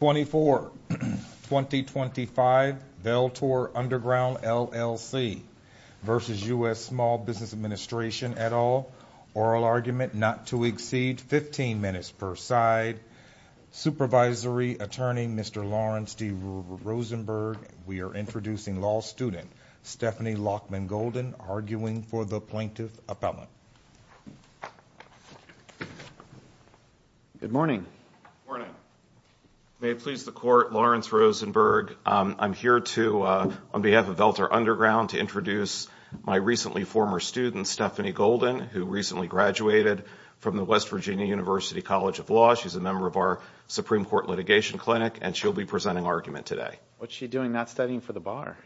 24-2025 Veltor Underground LLC v. U.S. Small Business Administration et al. Oral argument not to exceed 15 minutes per side. Supervisory Attorney Mr. Lawrence D. Rosenberg. We are introducing law student Stephanie Lockman Golden arguing for the Plaintiff Appellant. Good morning. May it please the Court, Lawrence Rosenberg. I'm here on behalf of Veltor Underground to introduce my recently former student Stephanie Golden who recently graduated from the West Virginia University College of Law. She's a member of our Supreme Court Litigation Clinic and she'll be presenting argument today. What's she doing? Not studying for the bar?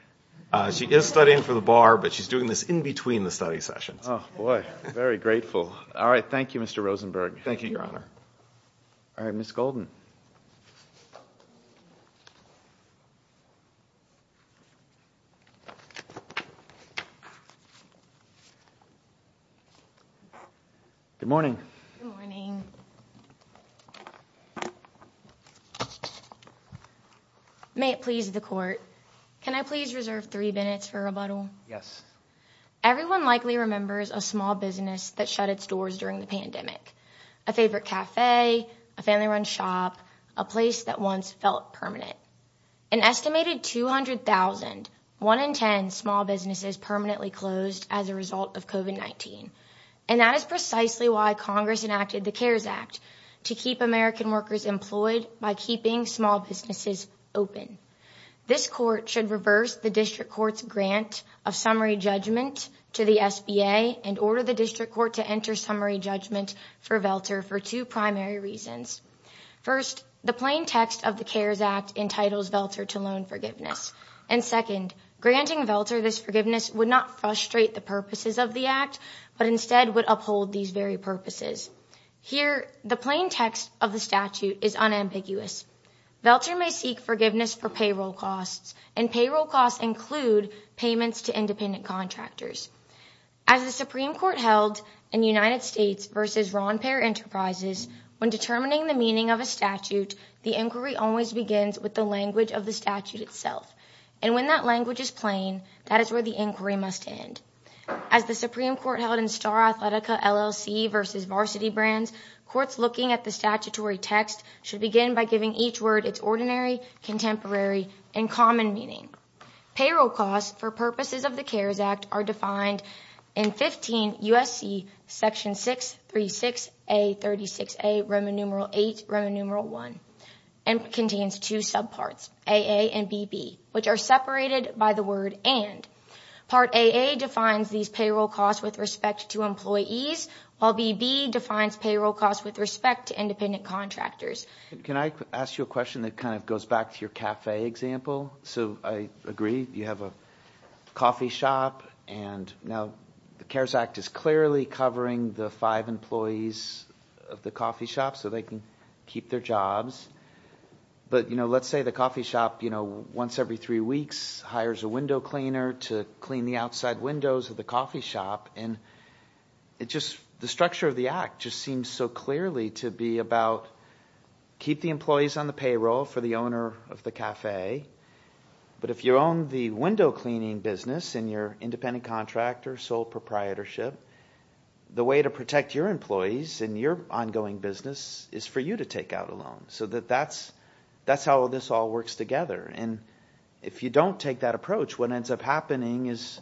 She is studying for the bar, but she's doing this in between the study sessions. Oh boy, very grateful. All right, thank you, Mr. Rosenberg. Thank you, Your Honor. All right, Ms. Golden. Good morning. Good morning. May it please the Court, can I please reserve three minutes for rebuttal? Yes. Everyone likely remembers a small business that shut its doors during the pandemic. A favorite cafe, a family-run shop, a place that once felt permanent. An estimated 200,000, 1 in 10 small businesses permanently closed as a result of COVID-19. And that is precisely why Congress enacted the CARES Act to keep American workers employed by keeping small businesses open. This Court should reverse the District Court's grant of summary judgment to the SBA and order the District Court to enter summary judgment for Velter for two primary reasons. First, the plain text of the CARES Act entitles Velter to loan forgiveness. And second, granting Velter this forgiveness would not frustrate the purposes of the Act, but instead would uphold these very purposes. Here, the plain text of the statute is unambiguous. Velter may seek forgiveness for payroll costs, and payroll costs include payments to independent contractors. As the Supreme Court held in United States v. Ron Peer Enterprises, when determining the meaning of a statute, the inquiry always begins with the language of the statute itself. And when that language is plain, that is where the inquiry must end. As the Supreme Court held in Star Athletica LLC v. Varsity Brands, courts looking at the statutory text should begin by giving each word its ordinary, contemporary, and common meaning. Payroll costs for purposes of the CARES Act are defined in 15 U.S.C. section 636A-36A, Roman numeral 8, Roman numeral 1, and contains two subparts, A.A. and B.B., which are separated by the word and. Part A.A. defines these payroll costs with respect to employees, while B.B. defines payroll costs with respect to independent contractors. Can I ask you a question that kind of goes back to your cafe example? So I agree you have a coffee shop, and now the CARES Act is clearly covering the five employees of the coffee shop so they can keep their jobs. But let's say the coffee shop once every three weeks hires a window cleaner to clean the outside windows of the coffee shop. And the structure of the act just seems so clearly to be about keep the employees on the payroll for the owner of the cafe. But if you own the window cleaning business and you're an independent contractor, sole proprietorship, the way to protect your employees and your ongoing business is for you to take out a loan. So that's how this all works together. And if you don't take that approach, what ends up happening is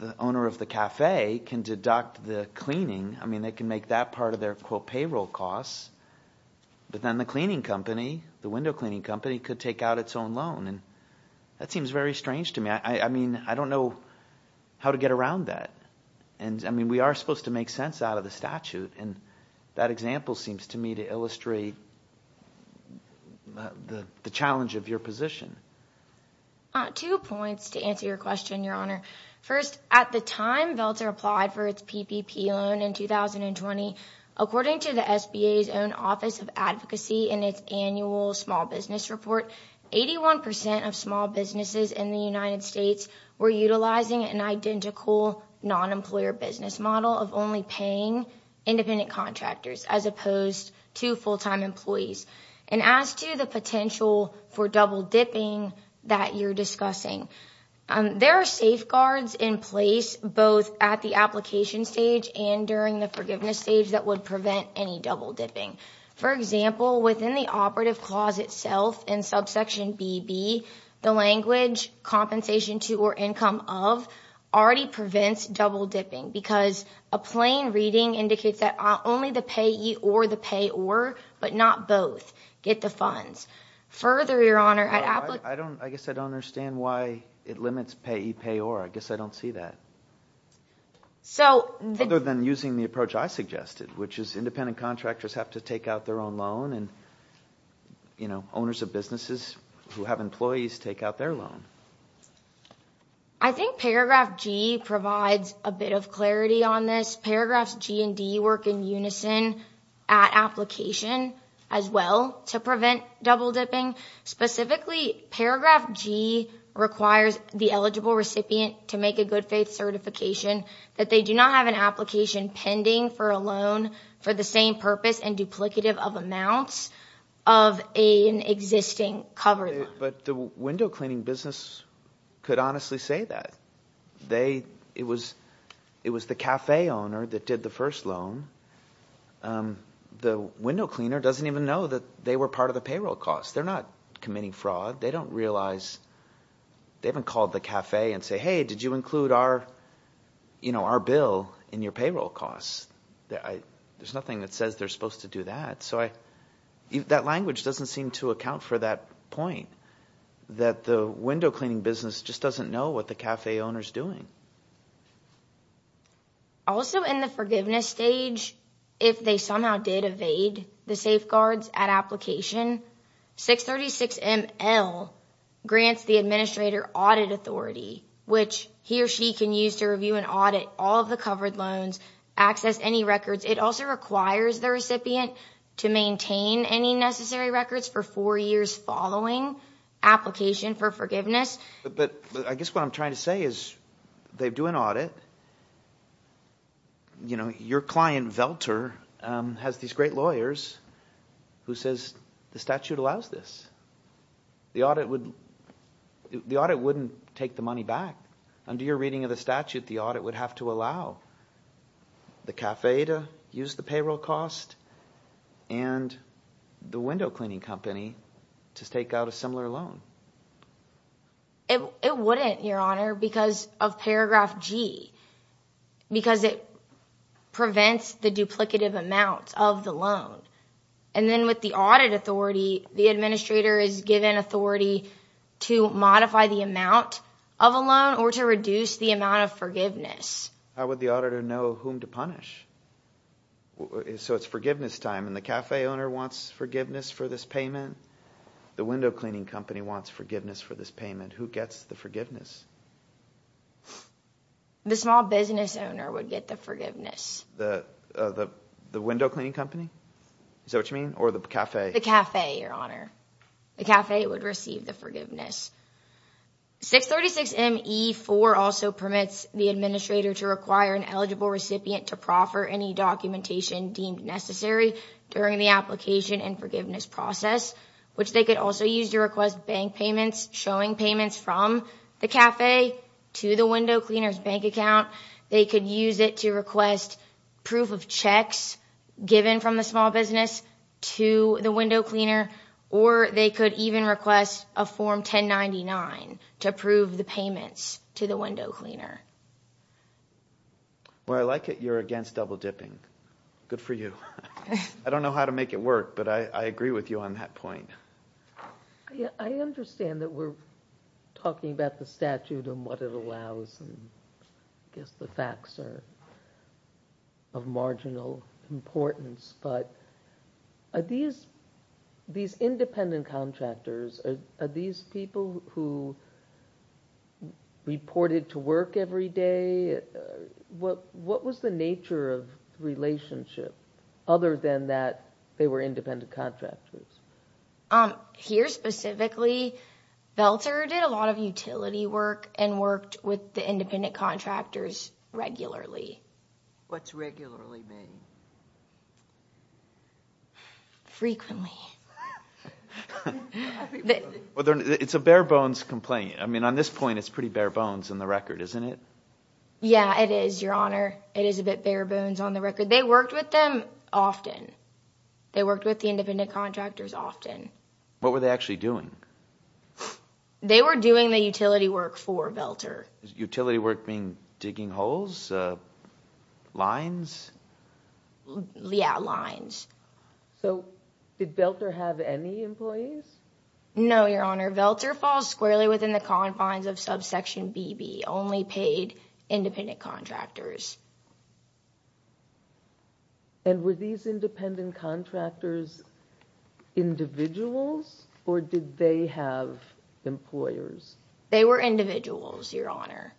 the owner of the cafe can deduct the cleaning. I mean they can make that part of their, quote, payroll costs. But then the cleaning company, the window cleaning company, could take out its own loan. And that seems very strange to me. I mean I don't know how to get around that. And I mean we are supposed to make sense out of the statute. And that example seems to me to illustrate the challenge of your position. Two points to answer your question, Your Honor. First, at the time Veltzer applied for its PPP loan in 2020, according to the SBA's own Office of Advocacy in its annual small business report, 81% of small businesses in the United States were utilizing an identical non-employer business model of only paying independent contractors, as opposed to full-time employees. And as to the potential for double dipping that you're discussing, there are safeguards in place both at the application stage and during the forgiveness stage that would prevent any double dipping. For example, within the operative clause itself in subsection BB, the language compensation to or income of already prevents double dipping because a plain reading indicates that only the payee or the payor, but not both, get the funds. Further, Your Honor, at application stage, I guess I don't understand why it limits payee, payor. I guess I don't see that. Other than using the approach I suggested, which is independent contractors have to take out their own loan and owners of businesses who have employees take out their loan. I think paragraph G provides a bit of clarity on this. Paragraphs G and D work in unison at application as well to prevent double dipping. Specifically, paragraph G requires the eligible recipient to make a good faith certification that they do not have an application pending for a loan for the same purpose and duplicative of amounts of an existing covered loan. But the window cleaning business could honestly say that. It was the café owner that did the first loan. The window cleaner doesn't even know that they were part of the payroll cost. They're not committing fraud. They don't realize. They haven't called the café and said, hey, did you include our bill in your payroll cost? There's nothing that says they're supposed to do that. So that language doesn't seem to account for that point, that the window cleaning business just doesn't know what the café owner is doing. Also in the forgiveness stage, if they somehow did evade the safeguards at application, 636ML grants the administrator audit authority, which he or she can use to review and audit all of the covered loans, access any records. It also requires the recipient to maintain any necessary records for four years following application for forgiveness. But I guess what I'm trying to say is they do an audit. Your client, Velter, has these great lawyers who says the statute allows this. The audit wouldn't take the money back. Under your reading of the statute, the audit would have to allow the café to use the payroll cost and the window cleaning company to take out a similar loan. It wouldn't, Your Honor, because of paragraph G, because it prevents the duplicative amount of the loan. And then with the audit authority, the administrator is given authority to modify the amount of a loan or to reduce the amount of forgiveness. How would the auditor know whom to punish? So it's forgiveness time, and the café owner wants forgiveness for this payment. The window cleaning company wants forgiveness for this payment. Who gets the forgiveness? The small business owner would get the forgiveness. The window cleaning company? Is that what you mean? Or the café? The café, Your Honor. The café would receive the forgiveness. 636 M.E. 4 also permits the administrator to require an eligible recipient to proffer any documentation deemed necessary during the application and forgiveness process, which they could also use to request bank payments, showing payments from the café to the window cleaner's bank account. They could use it to request proof of checks given from the small business to the window cleaner, or they could even request a Form 1099 to approve the payments to the window cleaner. Well, I like it you're against double dipping. Good for you. I don't know how to make it work, but I agree with you on that point. I understand that we're talking about the statute and what it allows, and I guess the facts are of marginal importance, but are these independent contractors, are these people who reported to work every day? What was the nature of the relationship other than that they were independent contractors? Here specifically, Velter did a lot of utility work and worked with the independent contractors regularly. What's regularly mean? Frequently. It's a bare bones complaint. I mean, on this point, it's pretty bare bones on the record, isn't it? Yeah, it is, Your Honor. It is a bit bare bones on the record. They worked with them often. They worked with the independent contractors often. What were they actually doing? They were doing the utility work for Velter. Utility work being digging holes, lines? Yeah, lines. So did Velter have any employees? No, Your Honor. Velter falls squarely within the confines of subsection BB, only paid independent contractors. And were these independent contractors individuals or did they have employers? They were individuals, Your Honor.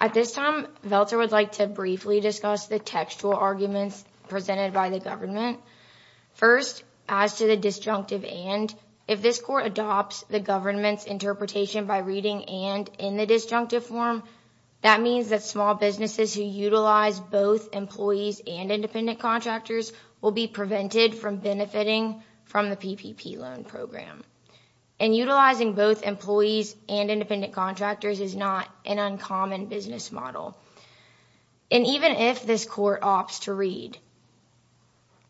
At this time, Velter would like to briefly discuss the textual arguments presented by the government. First, as to the disjunctive and, if this court adopts the government's interpretation by reading and in the disjunctive form, that means that small businesses who utilize both employees and independent contractors will be prevented from benefiting from the PPP loan program. And utilizing both employees and independent contractors is not an uncommon business model. And even if this court opts to read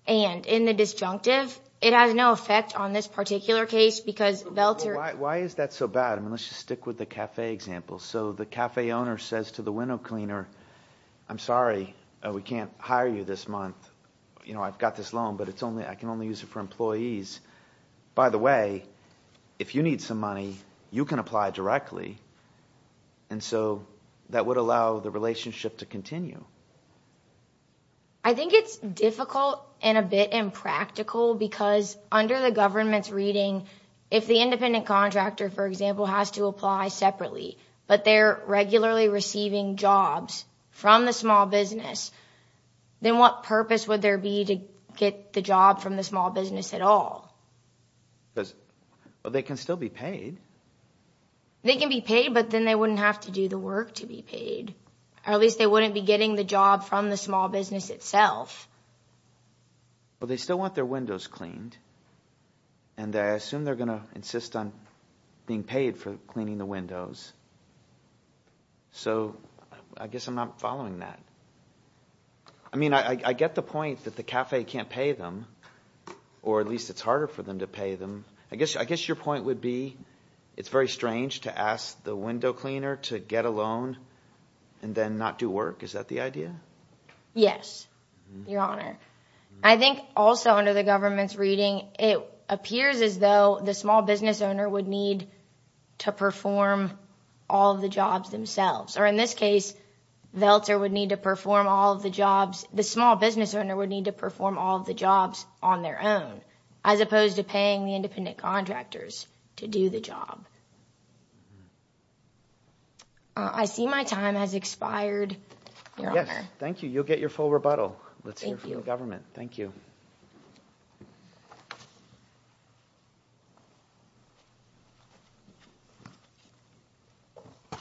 and in the disjunctive, it has no effect on this particular case because Velter... Why is that so bad? I mean let's just stick with the cafe example. So the cafe owner says to the window cleaner, I'm sorry, we can't hire you this month. I've got this loan, but I can only use it for employees. By the way, if you need some money, you can apply directly. And so, that would allow the relationship to continue. I think it's difficult and a bit impractical because under the government's reading, if the independent contractor, for example, has to apply separately... Well, they can still be paid. They can be paid, but then they wouldn't have to do the work to be paid. Or at least they wouldn't be getting the job from the small business itself. Well, they still want their windows cleaned. And I assume they're going to insist on being paid for cleaning the windows. So, I guess I'm not following that. I mean I get the point that the cafe can't pay them, or at least it's harder for them to pay them. I guess your point would be, it's very strange to ask the window cleaner to get a loan and then not do work. Is that the idea? Yes, Your Honor. I think also under the government's reading, it appears as though the small business owner would need to perform all of the jobs themselves. Or in this case, Veltzer would need to perform all of the jobs... The small business owner would need to perform all of the jobs on their own, as opposed to paying the independent contractors to do the job. I see my time has expired, Your Honor. Yes, thank you. You'll get your full rebuttal. Let's hear from the government. Thank you. Good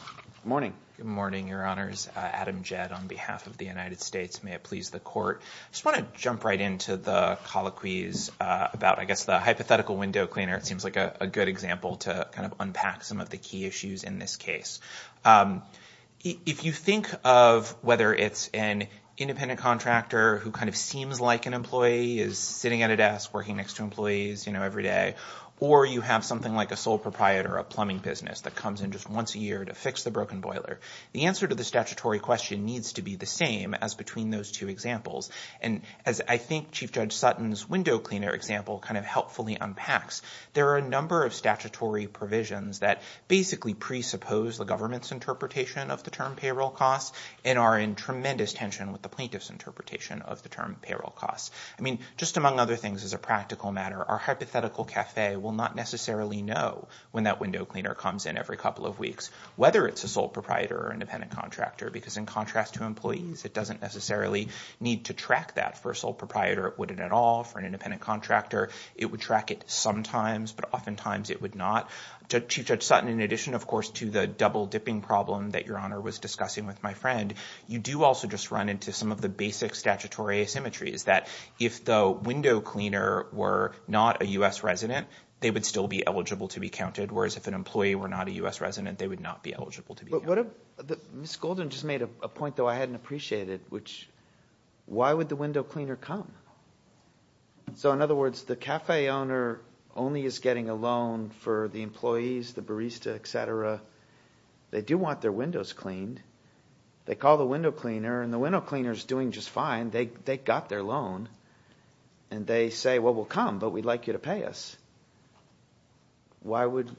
morning. Good morning, Your Honors. Adam Jed on behalf of the United States. May it please the Court. I just want to jump right into the colloquies about, I guess, the hypothetical window cleaner. It seems like a good example to kind of unpack some of the key issues in this case. If you think of whether it's an independent contractor who kind of seems like an employee, is sitting at a desk working next to employees, you know, every day. Or you have something like a sole proprietor of a plumbing business that comes in just once a year to fix the broken boiler. The answer to the statutory question needs to be the same as between those two examples. And as I think Chief Judge Sutton's window cleaner example kind of helpfully unpacks, there are a number of statutory provisions that basically presuppose the government's interpretation of the term payroll costs and are in tremendous tension with the plaintiff's interpretation of the term payroll costs. I mean, just among other things, as a practical matter, our hypothetical cafe will not necessarily know when that window cleaner comes in every couple of weeks, whether it's a sole proprietor or independent contractor, because in contrast to employees, it doesn't necessarily need to track that. For a sole proprietor, it wouldn't at all. For an independent contractor, it would track it sometimes, but oftentimes it would not. So Chief Judge Sutton, in addition, of course, to the double-dipping problem that Your Honor was discussing with my friend, you do also just run into some of the basic statutory asymmetries that if the window cleaner were not a U.S. resident, they would still be eligible to be counted, whereas if an employee were not a U.S. resident, they would not be eligible to be counted. But what if – Ms. Golden just made a point, though, I hadn't appreciated, which – why would the window cleaner come? So in other words, the cafe owner only is getting a loan for the employees, the barista, et cetera. They do want their windows cleaned. They call the window cleaner, and the window cleaner is doing just fine. They got their loan. And they say, well, we'll come, but we'd like you to pay us. Why would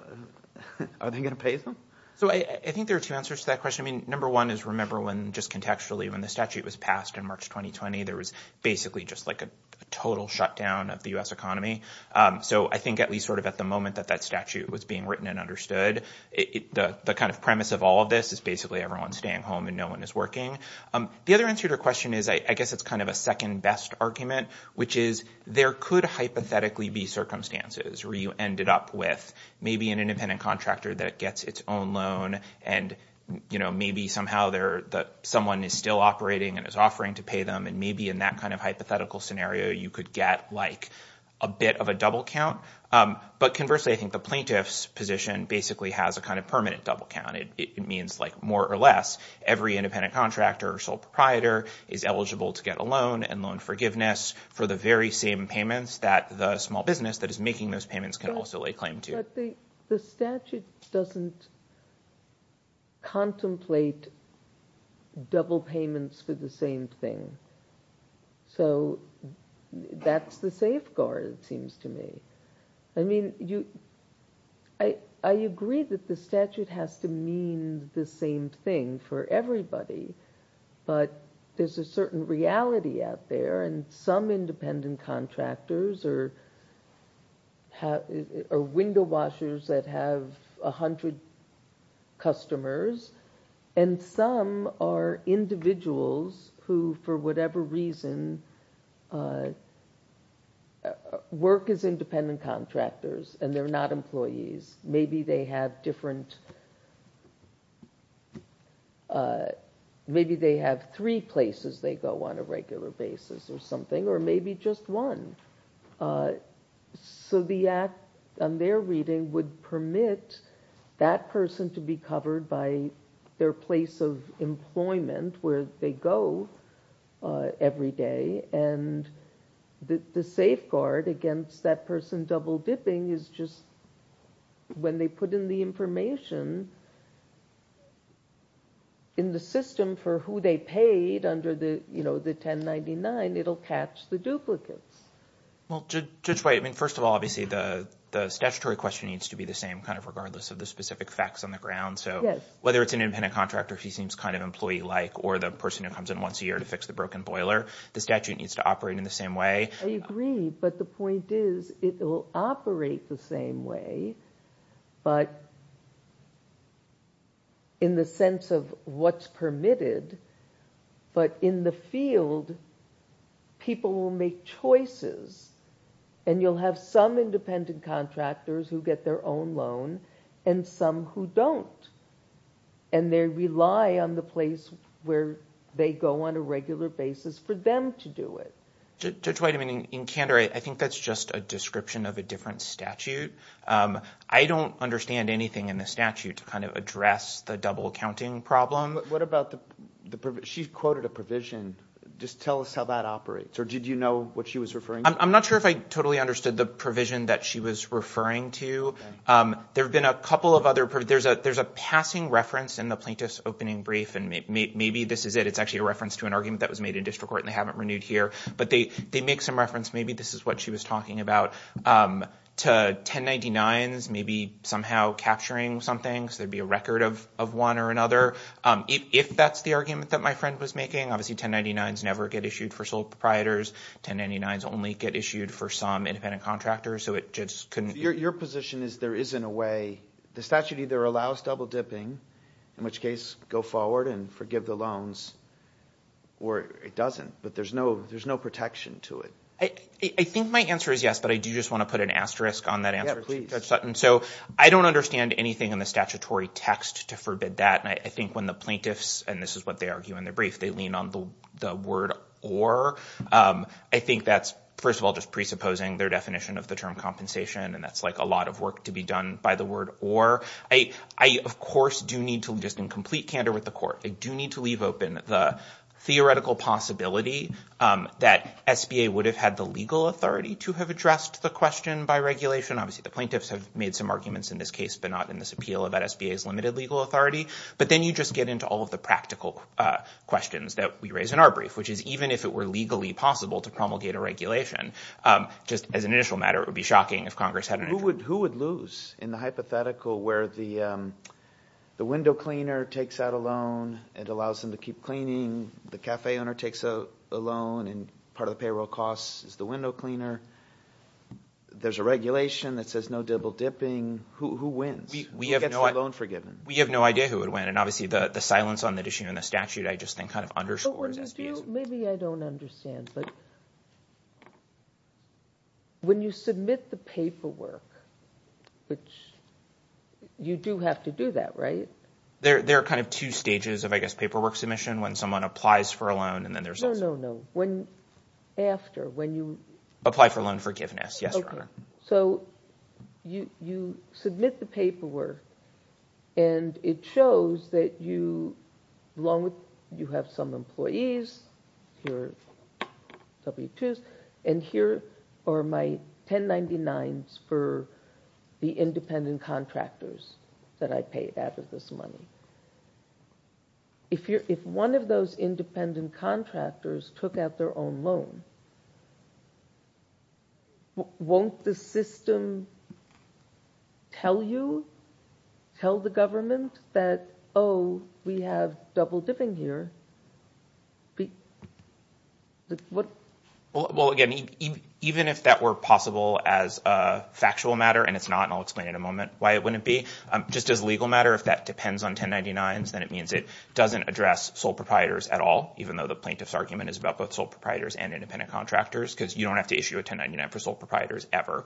– are they going to pay them? So I think there are two answers to that question. I mean, number one is remember when just contextually when the statute was passed in March 2020, there was basically just like a total shutdown of the U.S. economy. So I think at least sort of at the moment that that statute was being written and understood, the kind of premise of all of this is basically everyone's staying home and no one is working. The other answer to your question is I guess it's kind of a second-best argument, which is there could hypothetically be circumstances where you ended up with maybe an independent contractor that gets its own loan and maybe somehow someone is still operating and is offering to pay them, and maybe in that kind of hypothetical scenario you could get like a bit of a double count. But conversely, I think the plaintiff's position basically has a kind of permanent double count. It means like more or less every independent contractor or sole proprietor is eligible to get a loan and loan forgiveness for the very same payments that the small business that is making those payments can also lay claim to. But the statute doesn't contemplate double payments for the same thing. So that's the safeguard, it seems to me. I mean, I agree that the statute has to mean the same thing for everybody, but there's a certain reality out there, and some independent contractors are window washers that have 100 customers, and some are individuals who, for whatever reason, work as independent contractors and they're not employees. Maybe they have three places they go on a regular basis or something, or maybe just one. So the act on their reading would permit that person to be covered by their place of employment where they go every day, and the safeguard against that person double dipping is just when they put in the information in the system for who they paid under the 1099, it'll catch the duplicates. Well, Judge White, I mean, first of all, obviously the statutory question needs to be the same, kind of regardless of the specific facts on the ground. So whether it's an independent contractor who seems kind of employee-like or the person who comes in once a year to fix the broken boiler, the statute needs to operate in the same way. I agree, but the point is it will operate the same way, but in the sense of what's permitted. But in the field, people will make choices, and you'll have some independent contractors who get their own loan and some who don't, and they rely on the place where they go on a regular basis for them to do it. Judge White, I mean, in candor, I think that's just a description of a different statute. I don't understand anything in the statute to kind of address the double counting problem. What about the – she quoted a provision. Just tell us how that operates, or did you know what she was referring to? I'm not sure if I totally understood the provision that she was referring to. There have been a couple of other – there's a passing reference in the plaintiff's opening brief, and maybe this is it. It's actually a reference to an argument that was made in district court, and they haven't renewed here. But they make some reference. Maybe this is what she was talking about, to 1099s maybe somehow capturing something, so there would be a record of one or another, if that's the argument that my friend was making. Obviously, 1099s never get issued for sole proprietors. 1099s only get issued for some independent contractors, so it just couldn't – Your position is there isn't a way – the statute either allows double dipping, in which case go forward and forgive the loans, or it doesn't, but there's no protection to it. I think my answer is yes, but I do just want to put an asterisk on that answer. Yeah, please. So I don't understand anything in the statutory text to forbid that, and I think when the plaintiffs – and this is what they argue in their brief. They lean on the word or. I think that's, first of all, just presupposing their definition of the term compensation, and that's like a lot of work to be done by the word or. I, of course, do need to – just in complete candor with the court, I do need to leave open the theoretical possibility that SBA would have had the legal authority to have addressed the question by regulation. Obviously, the plaintiffs have made some arguments in this case, but not in this appeal about SBA's limited legal authority. But then you just get into all of the practical questions that we raise in our brief, which is even if it were legally possible to promulgate a regulation, just as an initial matter, it would be shocking if Congress had an issue. Who would lose in the hypothetical where the window cleaner takes out a loan and allows them to keep cleaning, the cafe owner takes a loan and part of the payroll costs is the window cleaner? There's a regulation that says no double dipping. Who wins? Who gets their loan forgiven? We have no idea who would win, and obviously the silence on the issue in the statute, I just think, kind of underscores SBA's— Maybe I don't understand, but when you submit the paperwork, which you do have to do that, right? There are kind of two stages of, I guess, paperwork submission, when someone applies for a loan and then there's also— No, no, no. After, when you— Apply for loan forgiveness, yes, Your Honor. So you submit the paperwork and it shows that you have some employees, your W-2s, and here are my 1099s for the independent contractors that I paid out of this money. If one of those independent contractors took out their own loan, won't the system tell you, tell the government, that, oh, we have double dipping here? Well, again, even if that were possible as a factual matter, and it's not, and I'll explain in a moment why it wouldn't be, just as a legal matter, if that depends on 1099s, then it means it doesn't address sole proprietors at all, even though the plaintiff's argument is about both sole proprietors and independent contractors, because you don't have to issue a 1099 for sole proprietors ever.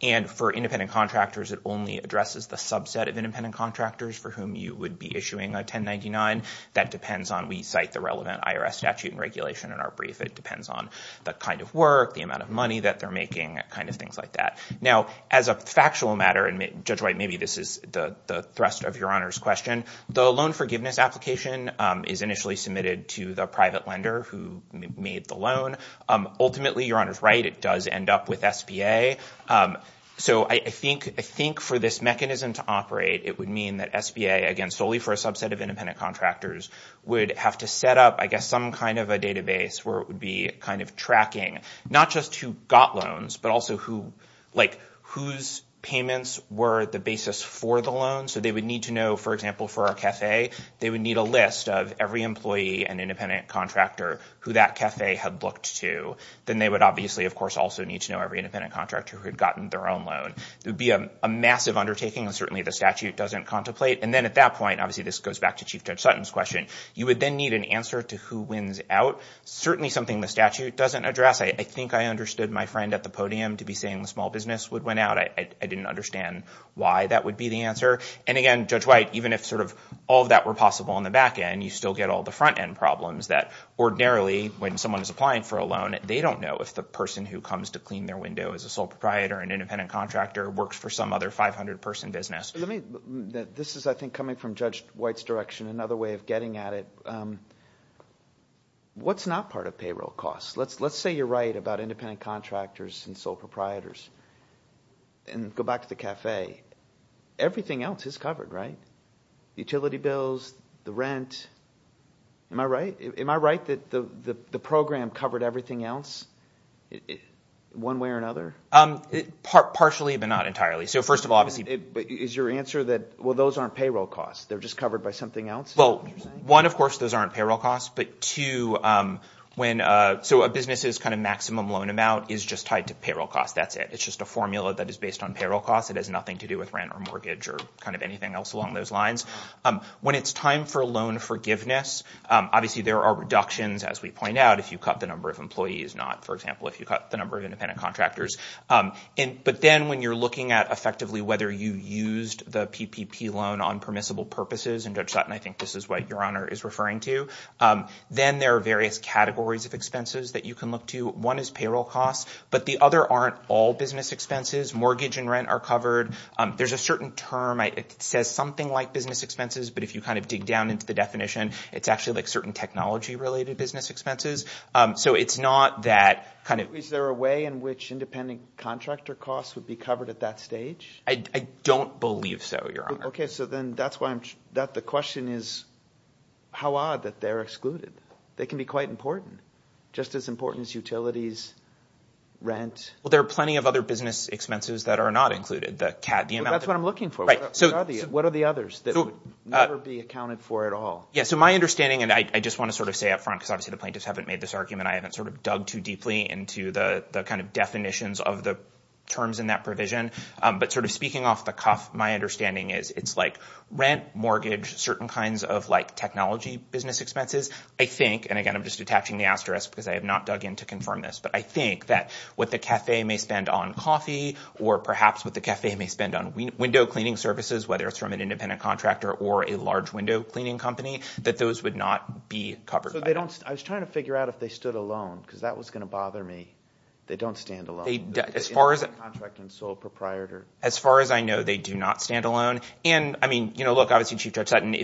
And for independent contractors, it only addresses the subset of independent contractors for whom you would be issuing a 1099. That depends on, we cite the relevant IRS statute and regulation in our brief. It depends on the kind of work, the amount of money that they're making, kind of things like that. Now, as a factual matter, and Judge White, maybe this is the thrust of Your Honor's question, the loan forgiveness application is initially submitted to the private lender who made the loan. Ultimately, Your Honor's right, it does end up with SBA. So I think for this mechanism to operate, it would mean that SBA, again, solely for a subset of independent contractors, would have to set up, I guess, some kind of a database where it would be kind of tracking not just who got loans, but also whose payments were the basis for the loan. So they would need to know, for example, for our cafe, they would need a list of every employee and independent contractor who that cafe had looked to. Then they would obviously, of course, also need to know every independent contractor who had gotten their own loan. It would be a massive undertaking, and certainly the statute doesn't contemplate. And then at that point, obviously this goes back to Chief Judge Sutton's question, you would then need an answer to who wins out, certainly something the statute doesn't address. I think I understood my friend at the podium to be saying the small business would win out. But I didn't understand why that would be the answer. And again, Judge White, even if sort of all of that were possible on the back end, you still get all the front end problems that ordinarily, when someone is applying for a loan, they don't know if the person who comes to clean their window is a sole proprietor or an independent contractor or works for some other 500-person business. This is, I think, coming from Judge White's direction, another way of getting at it. What's not part of payroll costs? Let's say you're right about independent contractors and sole proprietors. And go back to the cafe. Everything else is covered, right? Utility bills, the rent. Am I right? Am I right that the program covered everything else, one way or another? Partially, but not entirely. So first of all, obviously. Is your answer that, well, those aren't payroll costs? They're just covered by something else? Well, one, of course, those aren't payroll costs. So a business's kind of maximum loan amount is just tied to payroll costs. That's it. It's just a formula that is based on payroll costs. It has nothing to do with rent or mortgage or kind of anything else along those lines. When it's time for loan forgiveness, obviously there are reductions, as we point out, if you cut the number of employees, not, for example, if you cut the number of independent contractors. But then when you're looking at effectively whether you used the PPP loan on permissible purposes, and Judge Sutton, I think this is what Your Honor is referring to, then there are various categories of expenses that you can look to. One is payroll costs, but the other aren't all business expenses. Mortgage and rent are covered. There's a certain term. It says something like business expenses, but if you kind of dig down into the definition, it's actually like certain technology-related business expenses. So it's not that kind of – Is there a way in which independent contractor costs would be covered at that stage? I don't believe so, Your Honor. Okay, so then that's why I'm – The question is how odd that they're excluded. They can be quite important, just as important as utilities, rent. Well, there are plenty of other business expenses that are not included. That's what I'm looking for. What are the others that would never be accounted for at all? Yeah, so my understanding, and I just want to sort of say up front, because obviously the plaintiffs haven't made this argument, I haven't sort of dug too deeply into the kind of definitions of the terms in that provision, but sort of speaking off the cuff, my understanding is it's like rent, mortgage, certain kinds of like technology business expenses. I think – and again, I'm just attaching the asterisk because I have not dug in to confirm this – but I think that what the cafe may spend on coffee or perhaps what the cafe may spend on window cleaning services, whether it's from an independent contractor or a large window cleaning company, that those would not be covered by that. So they don't – I was trying to figure out if they stood alone because that was going to bother me. They don't stand alone. Independent contractor and sole proprietor. As far as I know, they do not stand alone. And, I mean, look, obviously Chief Judge Sutton,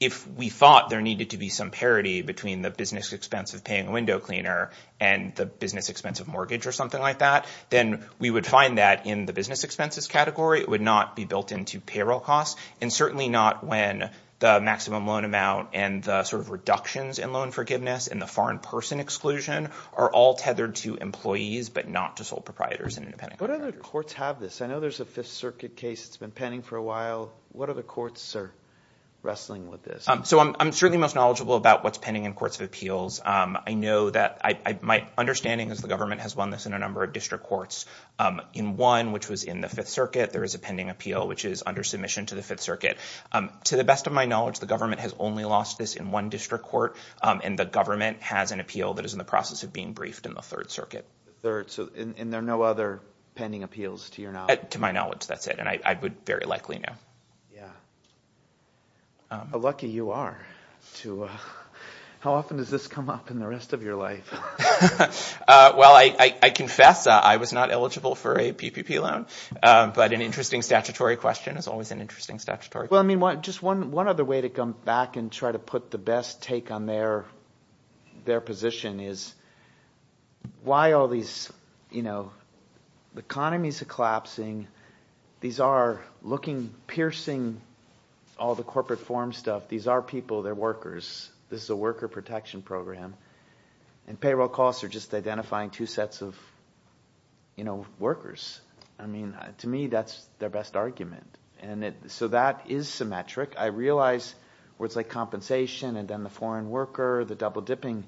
if we thought there needed to be some parity between the business expense of paying a window cleaner and the business expense of mortgage or something like that, then we would find that in the business expenses category. It would not be built into payroll costs, and certainly not when the maximum loan amount and the sort of reductions in loan forgiveness and the foreign person exclusion are all tethered to employees but not to sole proprietors and independent contractors. What other courts have this? I know there's a Fifth Circuit case that's been pending for a while. What other courts are wrestling with this? So I'm certainly most knowledgeable about what's pending in courts of appeals. I know that – my understanding is the government has won this in a number of district courts. In one, which was in the Fifth Circuit, there is a pending appeal, which is under submission to the Fifth Circuit. To the best of my knowledge, the government has only lost this in one district court, and the government has an appeal that is in the process of being briefed in the Third Circuit. And there are no other pending appeals to your knowledge? To my knowledge, that's it, and I would very likely know. How lucky you are. How often does this come up in the rest of your life? Well, I confess I was not eligible for a PPP loan, but an interesting statutory question is always an interesting statutory question. Well, I mean, just one other way to come back and try to put the best take on their position is why all these economies are collapsing. These are looking, piercing all the corporate forum stuff. These are people. They're workers. This is a worker protection program, and payroll costs are just identifying two sets of workers. I mean, to me, that's their best argument. So that is symmetric. I realize words like compensation and then the foreign worker, the double dipping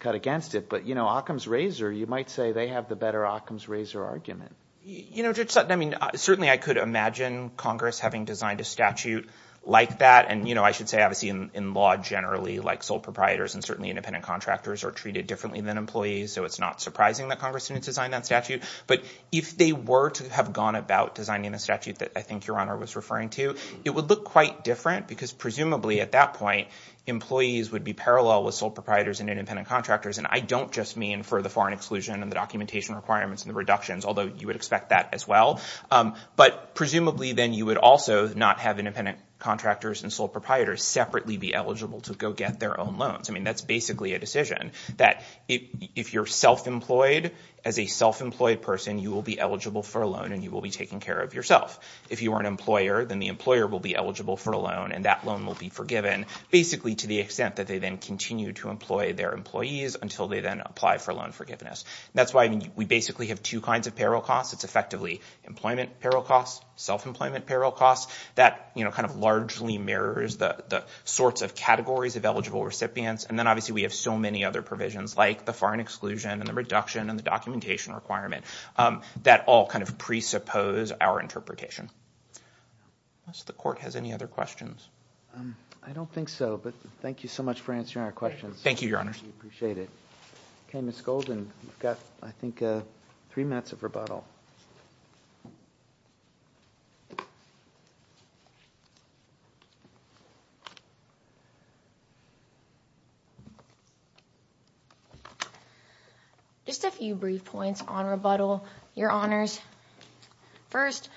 cut against it. But, you know, Occam's razor, you might say they have the better Occam's razor argument. You know, Judge Sutton, I mean, certainly I could imagine Congress having designed a statute like that. And, you know, I should say, obviously, in law generally, like sole proprietors and certainly independent contractors are treated differently than employees, so it's not surprising that Congress didn't design that statute. But if they were to have gone about designing a statute that I think Your Honor was referring to, it would look quite different because presumably at that point, employees would be parallel with sole proprietors and independent contractors. And I don't just mean for the foreign exclusion and the documentation requirements and the reductions, although you would expect that as well. But presumably then you would also not have independent contractors and sole proprietors separately be eligible to go get their own loans. I mean, that's basically a decision that if you're self-employed, as a self-employed person, you will be eligible for a loan and you will be taking care of yourself. If you are an employer, then the employer will be eligible for a loan and that loan will be forgiven, basically to the extent that they then continue to employ their employees until they then apply for loan forgiveness. That's why we basically have two kinds of payroll costs. It's effectively employment payroll costs, self-employment payroll costs. That, you know, kind of largely mirrors the sorts of categories of eligible recipients. And then obviously we have so many other provisions like the foreign exclusion and the reduction and the documentation requirement that all kind of presuppose our interpretation. Unless the court has any other questions. I don't think so, but thank you so much for answering our questions. Thank you, Your Honor. We appreciate it. Okay, Ms. Golden, you've got, I think, three minutes of rebuttal. Just a few brief points on rebuttal, Your Honors. First,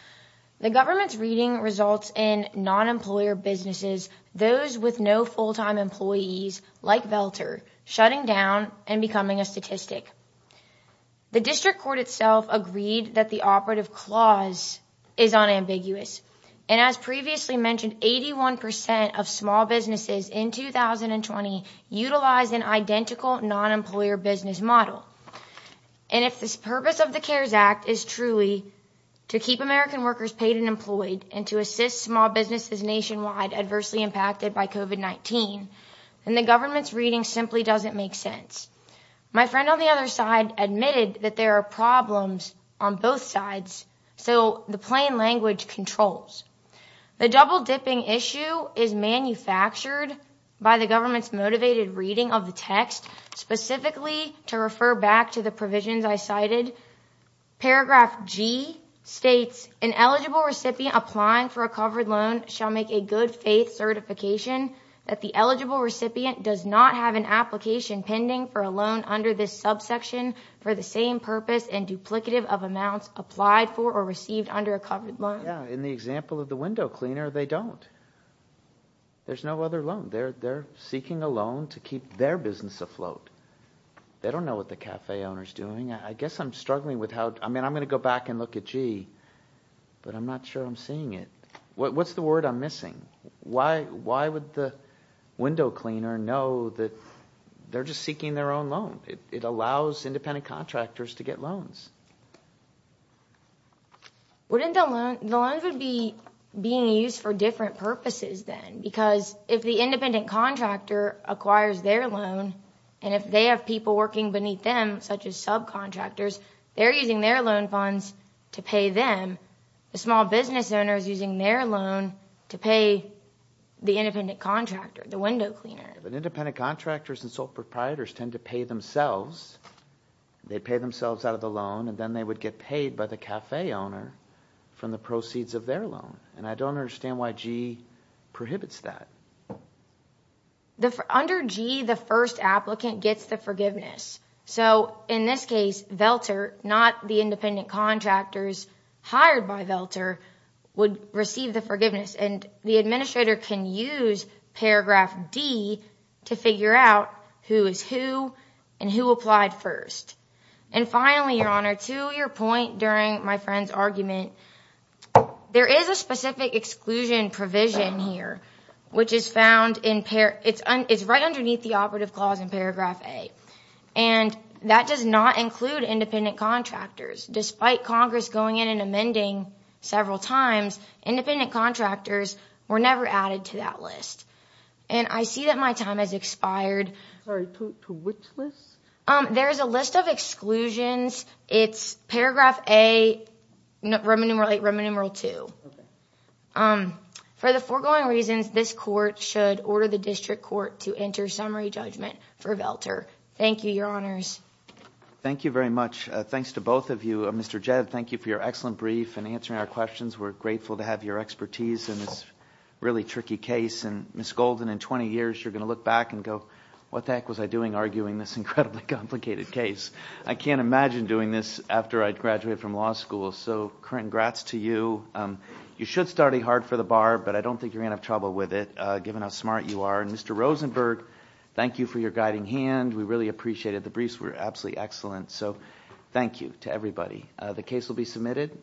the government's reading results in non-employer businesses, those with no full-time employees, like Velter, shutting down and becoming a statistic. The district court itself agreed that the operative clause is unambiguous. And as previously mentioned, 81% of small businesses in 2020 utilize an identical non-employer business model. And if this purpose of the CARES Act is truly to keep American workers paid and employed and to assist small businesses nationwide adversely impacted by COVID-19, then the government's reading simply doesn't make sense. My friend on the other side admitted that there are problems on both sides, so the plain language controls. The double-dipping issue is manufactured by the government's motivated reading of the text, specifically to refer back to the provisions I cited. Paragraph G states, an eligible recipient applying for a covered loan shall make a good faith certification that the eligible recipient does not have an application pending for a loan under this subsection for the same purpose and duplicative of amounts applied for or received under a covered loan. In the example of the window cleaner, they don't. There's no other loan. They're seeking a loan to keep their business afloat. They don't know what the cafe owner is doing. I guess I'm struggling with how, I mean, I'm going to go back and look at G, but I'm not sure I'm seeing it. What's the word I'm missing? Why would the window cleaner know that they're just seeking their own loan? It allows independent contractors to get loans. The loans would be being used for different purposes then, because if the independent contractor acquires their loan, and if they have people working beneath them, such as subcontractors, they're using their loan funds to pay them. The small business owner is using their loan to pay the independent contractor, the window cleaner. Independent contractors and sole proprietors tend to pay themselves. They pay themselves out of the loan, and then they would get paid by the cafe owner from the proceeds of their loan. And I don't understand why G prohibits that. Under G, the first applicant gets the forgiveness. In this case, VELTR, not the independent contractors hired by VELTR, would receive the forgiveness, and the administrator can use paragraph D to figure out who is who and who applied first. And finally, Your Honor, to your point during my friend's argument, there is a specific exclusion provision here, which is right underneath the operative clause in paragraph A. And that does not include independent contractors. Despite Congress going in and amending several times, independent contractors were never added to that list. And I see that my time has expired. Sorry, to which list? There is a list of exclusions. It's paragraph A, Roman numeral II. For the foregoing reasons, this court should order the district court to enter summary judgment for VELTR. Thank you, Your Honors. Thank you very much. Thanks to both of you. Mr. Jed, thank you for your excellent brief and answering our questions. We're grateful to have your expertise in this really tricky case. And Ms. Golden, in 20 years, you're going to look back and go, what the heck was I doing arguing this incredibly complicated case? I can't imagine doing this after I'd graduated from law school. So congrats to you. You should study hard for the bar, but I don't think you're going to have trouble with it given how smart you are. And Mr. Rosenberg, thank you for your guiding hand. We really appreciate it. The briefs were absolutely excellent. So thank you to everybody. The case will be submitted.